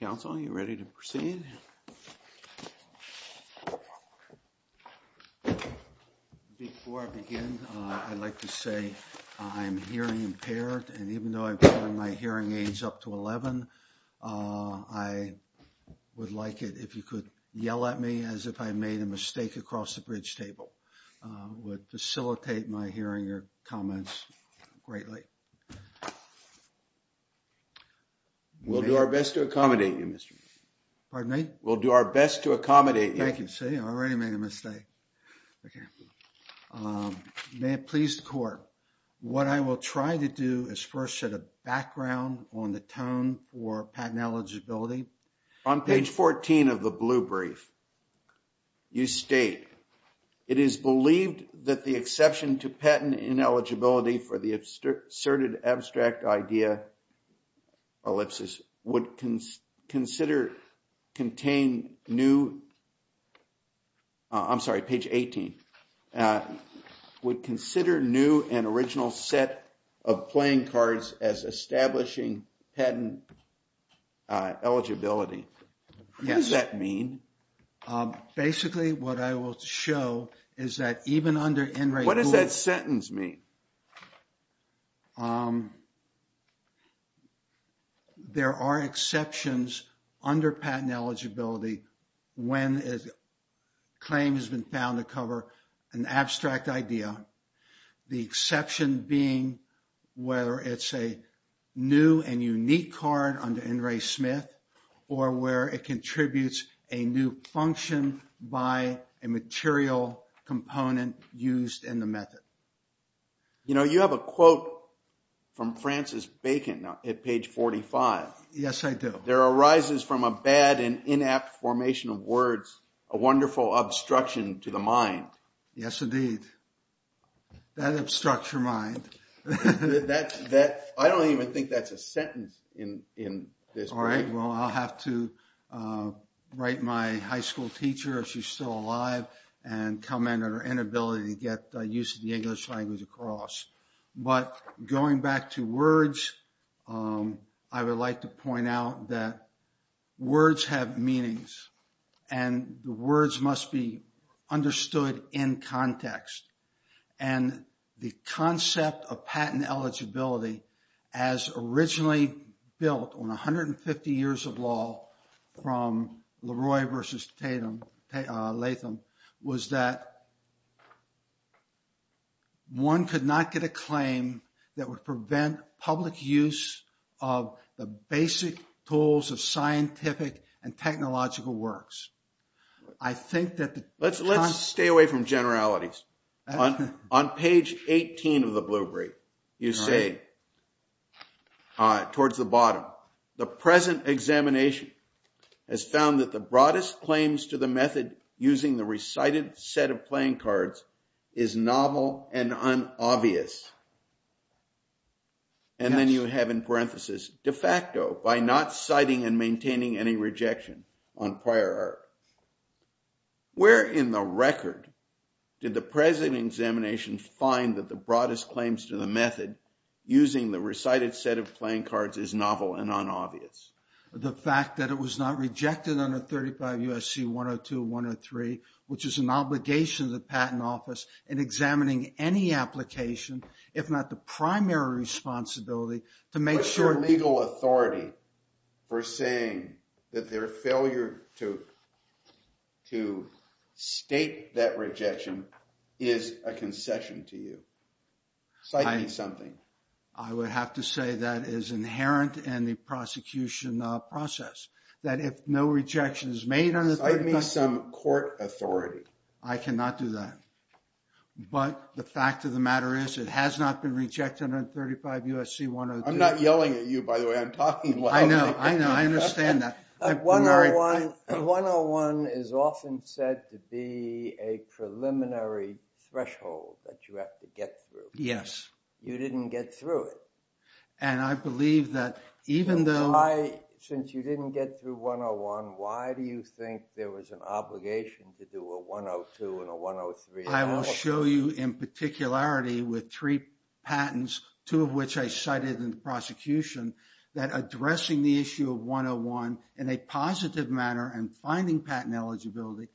Council, are you ready to proceed? Before I begin, I'd like to say I'm hearing impaired, and even though I'm putting my hearing aids up to 11, I would like it if you could yell at me as if I made a mistake across the bridge table. Would facilitate my hearing your comments greatly. We'll do our best to accommodate you, Mr. Pardon me. We'll do our best to accommodate. Thank you. See, I already made a mistake. May it please the court. What I will try to do is first set a background on the tone for patent eligibility. On page 14 of the blue brief. You state. It is believed that the exception to patent ineligibility for the asserted abstract idea. ellipsis would consider contain new. I'm sorry, page 18. Would consider new and original set of playing cards as establishing patent eligibility. What does that mean? Basically, what I will show is that even under. What does that sentence mean? There are exceptions under patent eligibility. When is claim has been found to cover an abstract idea. The exception being whether it's a new and unique card under in Ray Smith or where it contributes a new function by a material component used in the method. You know, you have a quote from Francis Bacon at page 45. Yes, I do. There arises from a bad and inapt formation of words, a wonderful obstruction to the mind. Yes, indeed. That obstruct your mind. That's that. I don't even think that's a sentence in in this. All right. Well, I'll have to write my high school teacher if she's still alive and come in or inability to get used to the English language across. But going back to words, I would like to point out that words have meanings and the words must be understood in context. And the concept of patent eligibility as originally built on one hundred and fifty years of law from Leroy versus Tatum Latham was that. One could not get a claim that would prevent public use of the basic tools of scientific and technological works. I think that let's let's stay away from generalities on page 18 of the Blueberry. You say towards the bottom, the present examination has found that the broadest claims to the method using the recited set of playing cards is novel and unobvious. And then you have in parenthesis de facto by not citing and maintaining any rejection on prior. Where in the record did the present examination find that the broadest claims to the method using the recited set of playing cards is novel and unobvious? The fact that it was not rejected on a thirty five USC one or two, one or three, which is an obligation of the patent office and examining any application, if not the primary responsibility to make sure legal authority for saying that their failure to to state that rejection is a concession to you. I would have to say that is inherent in the prosecution process, that if no rejection is made on the court authority, I cannot do that. But the fact of the matter is, it has not been rejected on thirty five USC one. I'm not yelling at you, by the way. I'm talking. I know. I know. I understand that. One on one is often said to be a preliminary threshold that you have to get through. Yes. You didn't get through it. And I believe that even though I, since you didn't get through one on one, why do you think there was an obligation to do a one on two and a one on three? I will show you in particularity with three patents, two of which I cited in the prosecution, that addressing the issue of one on one in a positive manner and finding patent eligibility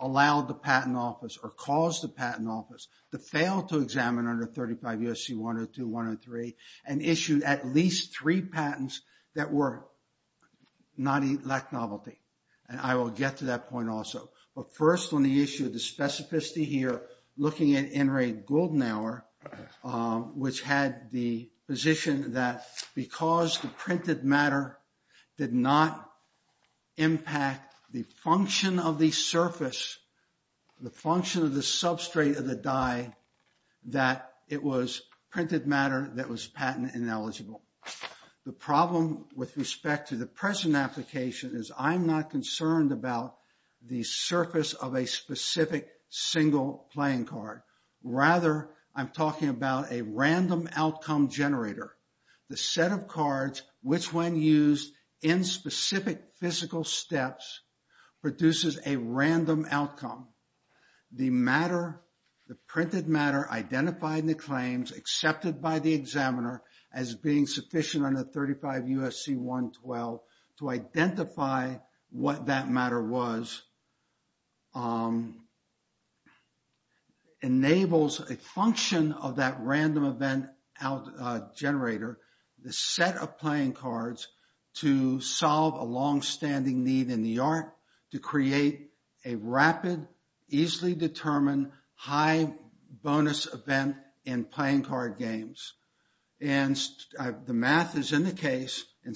allowed the patent office or caused the patent office to fail to examine under thirty five USC one or two, one or three and issued at least three patents that were not elect novelty. And I will get to that point also. But first on the issue of the specificity here, looking at Enright Golden Hour, which had the position that because the printed matter did not impact the function of the surface, the function of the substrate of the die, that it was printed matter that was patent ineligible. The problem with respect to the present application is I'm not concerned about the surface of a specific single playing card. Rather, I'm talking about a random outcome generator. The set of cards, which when used in specific physical steps, produces a random outcome. The matter, the printed matter identified in the claims accepted by the examiner as being sufficient under thirty five USC one twelve to identify what that matter was, enables a function of that random event generator. The set of playing cards to solve a longstanding need in the art to create a rapid, easily determined, high bonus event in playing card games. And the math is in the case, in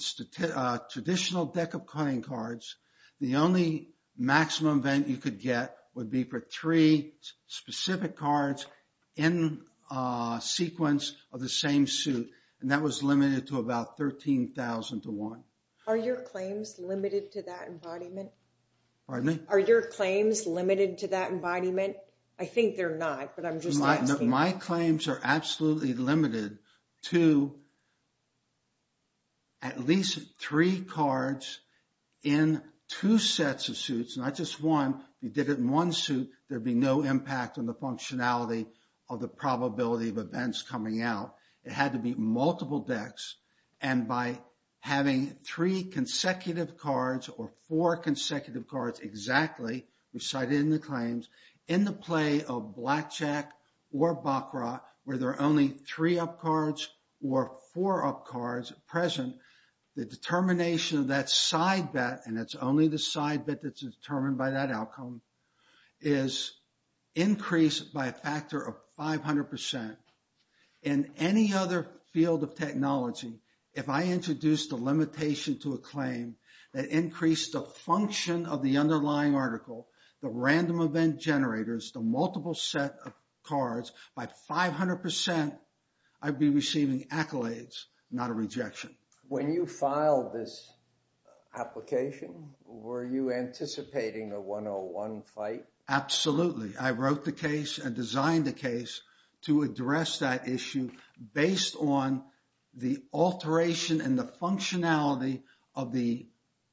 traditional deck of playing cards, the only maximum event you could get would be for three specific cards in a sequence of the same suit. And that was limited to about thirteen thousand to one. Are your claims limited to that embodiment? Pardon me? Are your claims limited to that embodiment? I think they're not, but I'm just asking. My claims are absolutely limited to at least three cards in two sets of suits, not just one. If you did it in one suit, there'd be no impact on the functionality of the probability of events coming out. It had to be multiple decks. And by having three consecutive cards or four consecutive cards exactly, we cited in the claims, in the play of blackjack or Baccarat, where there are only three up cards or four up cards present, the determination of that side bet, and it's only the side bet that's determined by that outcome, is increased by a factor of five hundred percent. In any other field of technology, if I introduced a limitation to a claim that increased the function of the underlying article, the random event generators, the multiple set of cards, by five hundred percent, I'd be receiving accolades, not a rejection. When you filed this application, were you anticipating a 101 fight? Absolutely. I wrote the case and designed the case to address that issue based on the alteration and the functionality of the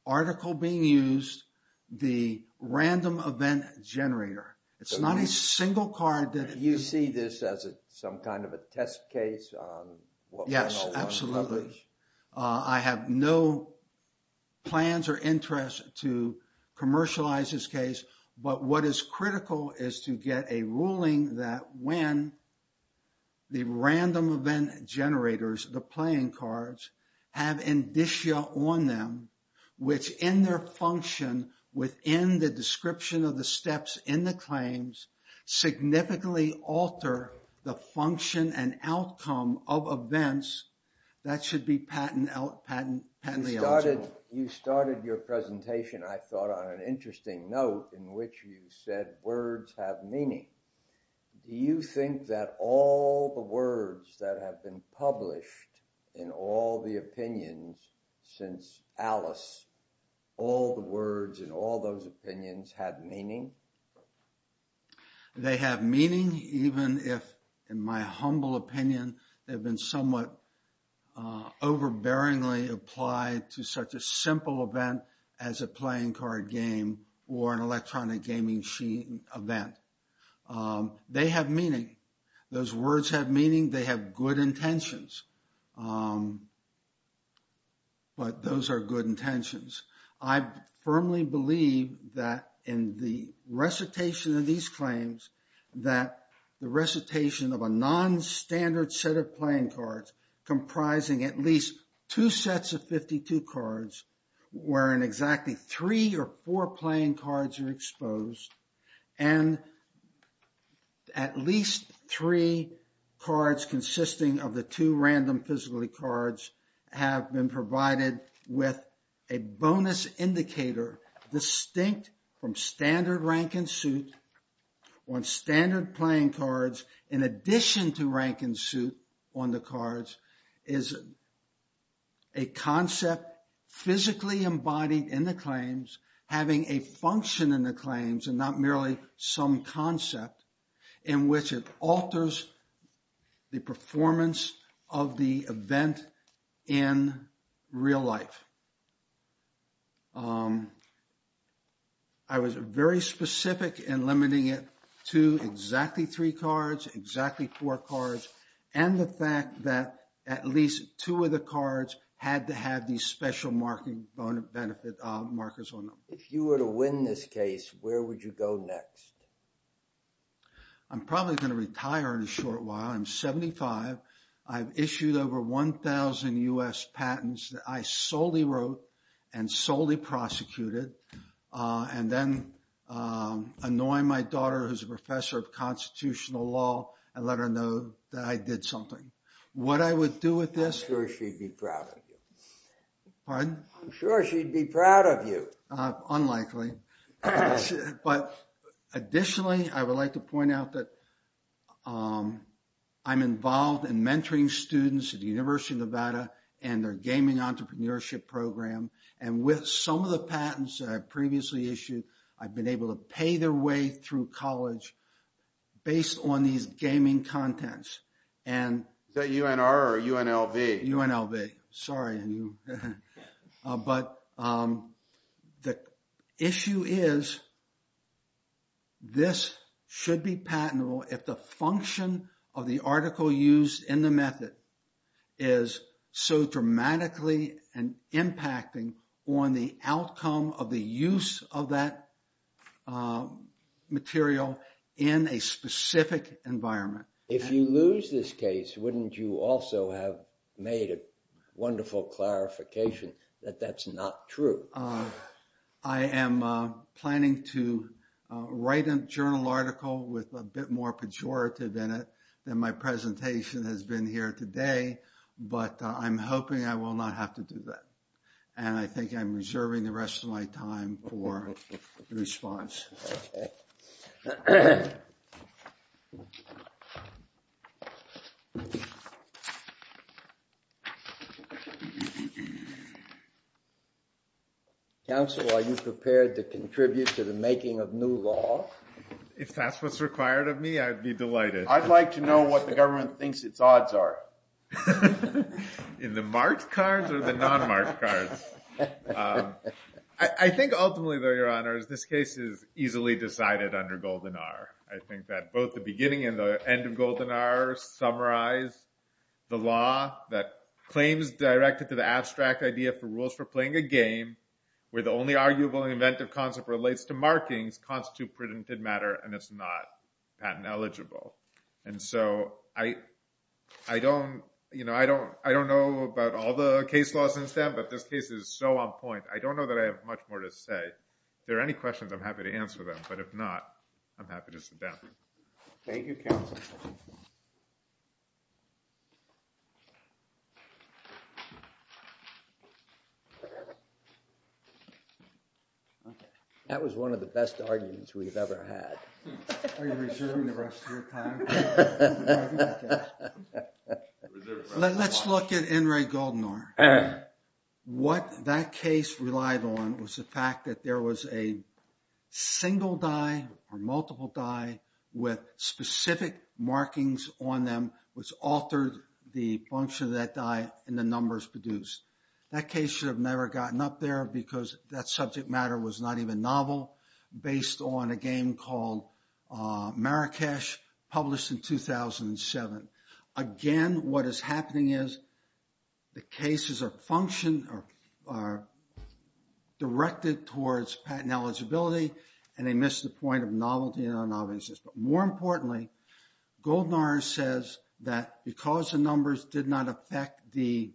article being used, the random event generator. It's not a single card that- Do you see this as some kind of a test case on what 101 is? Yes, absolutely. I have no plans or interest to commercialize this case, but what is critical is to get a ruling that when the random event generators, the playing cards, have indicia on them, which in their function within the description of the steps in the claims, significantly alter the function and outcome of events, that should be patently eligible. You started your presentation, I thought, on an interesting note in which you said words have meaning. Do you think that all the words that have been published in all the opinions since Alice, all the words in all those opinions have meaning? They have meaning even if, in my humble opinion, they've been somewhat overbearingly applied to such a simple event as a playing card game or an electronic gaming event. They have meaning. Those words have meaning. They have good intentions. But those are good intentions. I firmly believe that in the recitation of these claims, that the recitation of a non-standard set of playing cards comprising at least two sets of 52 cards, wherein exactly three or four playing cards are exposed, and at least three cards consisting of the two random physically cards have been provided with a bonus indicator distinct from standard rank and suit on standard playing cards in addition to rank and suit on the cards, is a concept physically embodied in the claims having a function in the claims and not merely some concept in which it alters the performance of the event in real life. I was very specific in limiting it to exactly three cards, exactly four cards, and the fact that at least two of the cards had to have these special bonus benefit markers on them. If you were to win this case, where would you go next? I'm probably going to retire in a short while. I'm 75. I've issued over 1,000 U.S. patents that I solely wrote and solely prosecuted, and then annoy my daughter, who's a professor of constitutional law, and let her know that I did something. What I would do with this— I'm sure she'd be proud of you. Pardon? I'm sure she'd be proud of you. Unlikely. But additionally, I would like to point out that I'm involved in mentoring students at the University of Nevada and their gaming entrepreneurship program, and with some of the patents that I previously issued, I've been able to pay their way through college based on these gaming contents. Is that UNR or UNLV? UNLV. Sorry. But the issue is this should be patentable if the function of the article used in the method is so dramatically impacting on the outcome of the use of that material in a specific environment. If you lose this case, wouldn't you also have made a wonderful clarification that that's not true? I am planning to write a journal article with a bit more pejorative in it than my presentation has been here today, but I'm hoping I will not have to do that. And I think I'm reserving the rest of my time for response. Okay. Counsel, are you prepared to contribute to the making of new law? If that's what's required of me, I'd be delighted. I'd like to know what the government thinks its odds are. In the marked cards or the non-marked cards? I think ultimately, though, Your Honor, this case is easily decided under Golden R. I think that both the beginning and the end of Golden R summarize the law that claims directed to the abstract idea for rules for playing a game where the only arguable and inventive concept relates to markings constitute prudented matter, and it's not patent eligible. And so I don't know about all the case laws in STEM, but this case is so on point, I don't know that I have much more to say. If there are any questions, I'm happy to answer them, but if not, I'm happy to sit down. Thank you, Counsel. That was one of the best arguments we've ever had. Are you reserving the rest of your time? Let's look at In re Golden R. What that case relied on was the fact that there was a single die or multiple die with specific markings on them which altered the function of that die and the numbers produced. That case should have never gotten up there because that subject matter was not even novel based on a game called Marrakesh published in 2007. Again, what is happening is the cases are directed towards patent eligibility and they miss the point of novelty and non-novelty. But more importantly, Golden R says that because the numbers did not affect the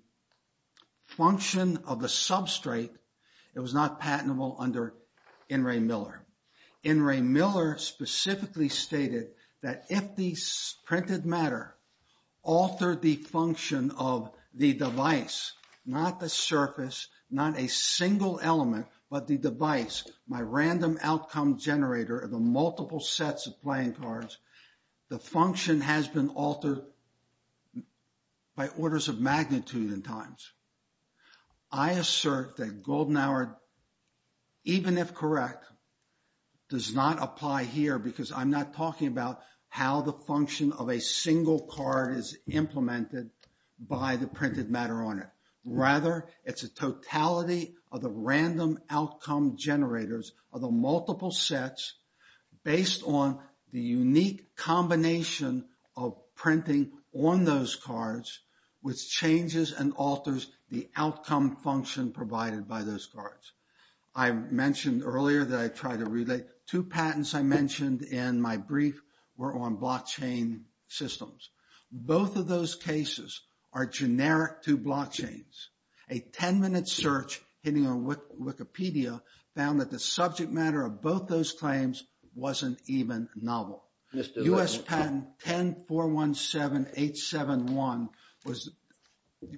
function of the substrate, it was not patentable under N. Ray Miller. N. Ray Miller specifically stated that if the printed matter altered the function of the device, not the surface, not a single element, but the device, my random outcome generator of the multiple sets of playing cards, the function has been altered by orders of magnitude in times. I assert that Golden R, even if correct, does not apply here because I'm not talking about how the function of a single card is implemented by the printed matter on it. Rather, it's a totality of the random outcome generators of the multiple sets based on the unique combination of printing on those cards which changes and alters the outcome function provided by those cards. I mentioned earlier that I tried to relate two patents I mentioned in my brief were on blockchain systems. Both of those cases are generic to blockchains. A 10-minute search hitting on Wikipedia found that the subject matter of both those claims wasn't even novel. U.S. patent 10-417-871 was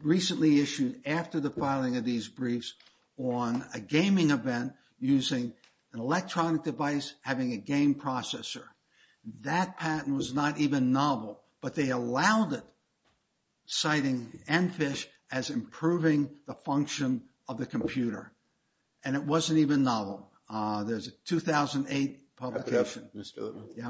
recently issued after the filing of these briefs on a gaming event using an electronic device having a game processor. That patent was not even novel, but they allowed it, citing Enfish as improving the function of the computer. And it wasn't even novel. There's a 2008 publication. Mr. Littman,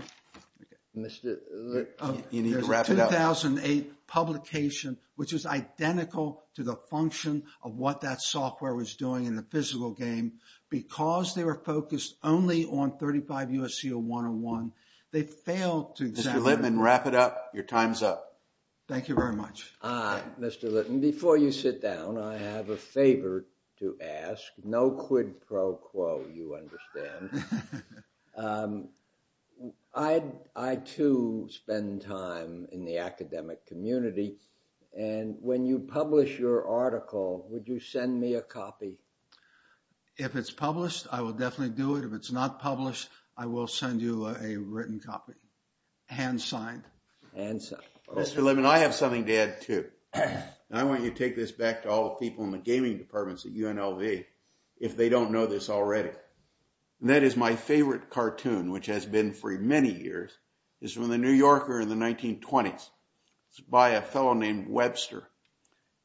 wrap it up. There's a 2008 publication which is identical to the function of what that software was doing in the physical game. Because they were focused only on 35 U.S.C. 101, they failed to examine it. Mr. Littman, wrap it up. Your time's up. Thank you very much. Mr. Littman, before you sit down, I have a favor to ask. No quid pro quo, you understand. I, too, spend time in the academic community. And when you publish your article, would you send me a copy? If it's published, I will definitely do it. If it's not published, I will send you a written copy, hand-signed. Mr. Littman, I have something to add, too. And I want you to take this back to all the people in the gaming departments at UNLV if they don't know this already. And that is my favorite cartoon, which has been for many years. It's from the New Yorker in the 1920s. It's by a fellow named Webster.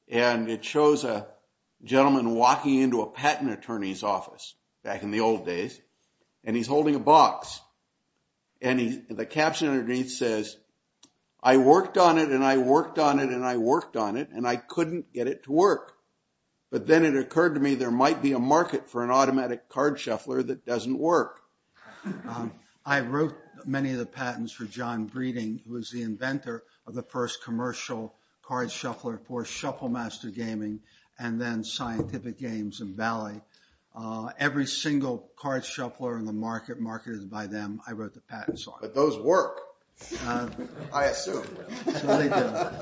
And it shows a gentleman walking into a patent attorney's office back in the old days. And he's holding a box. And the caption underneath says, I worked on it, and I worked on it, and I worked on it, and I couldn't get it to work. But then it occurred to me there might be a market for an automatic card shuffler that doesn't work. I wrote many of the patents for John Breeding, who was the inventor of the first commercial card shuffler for Shufflemaster Gaming, and then Scientific Games and Valley. Every single card shuffler in the market marketed by them, I wrote the patents on. But those work, I assume. So they do.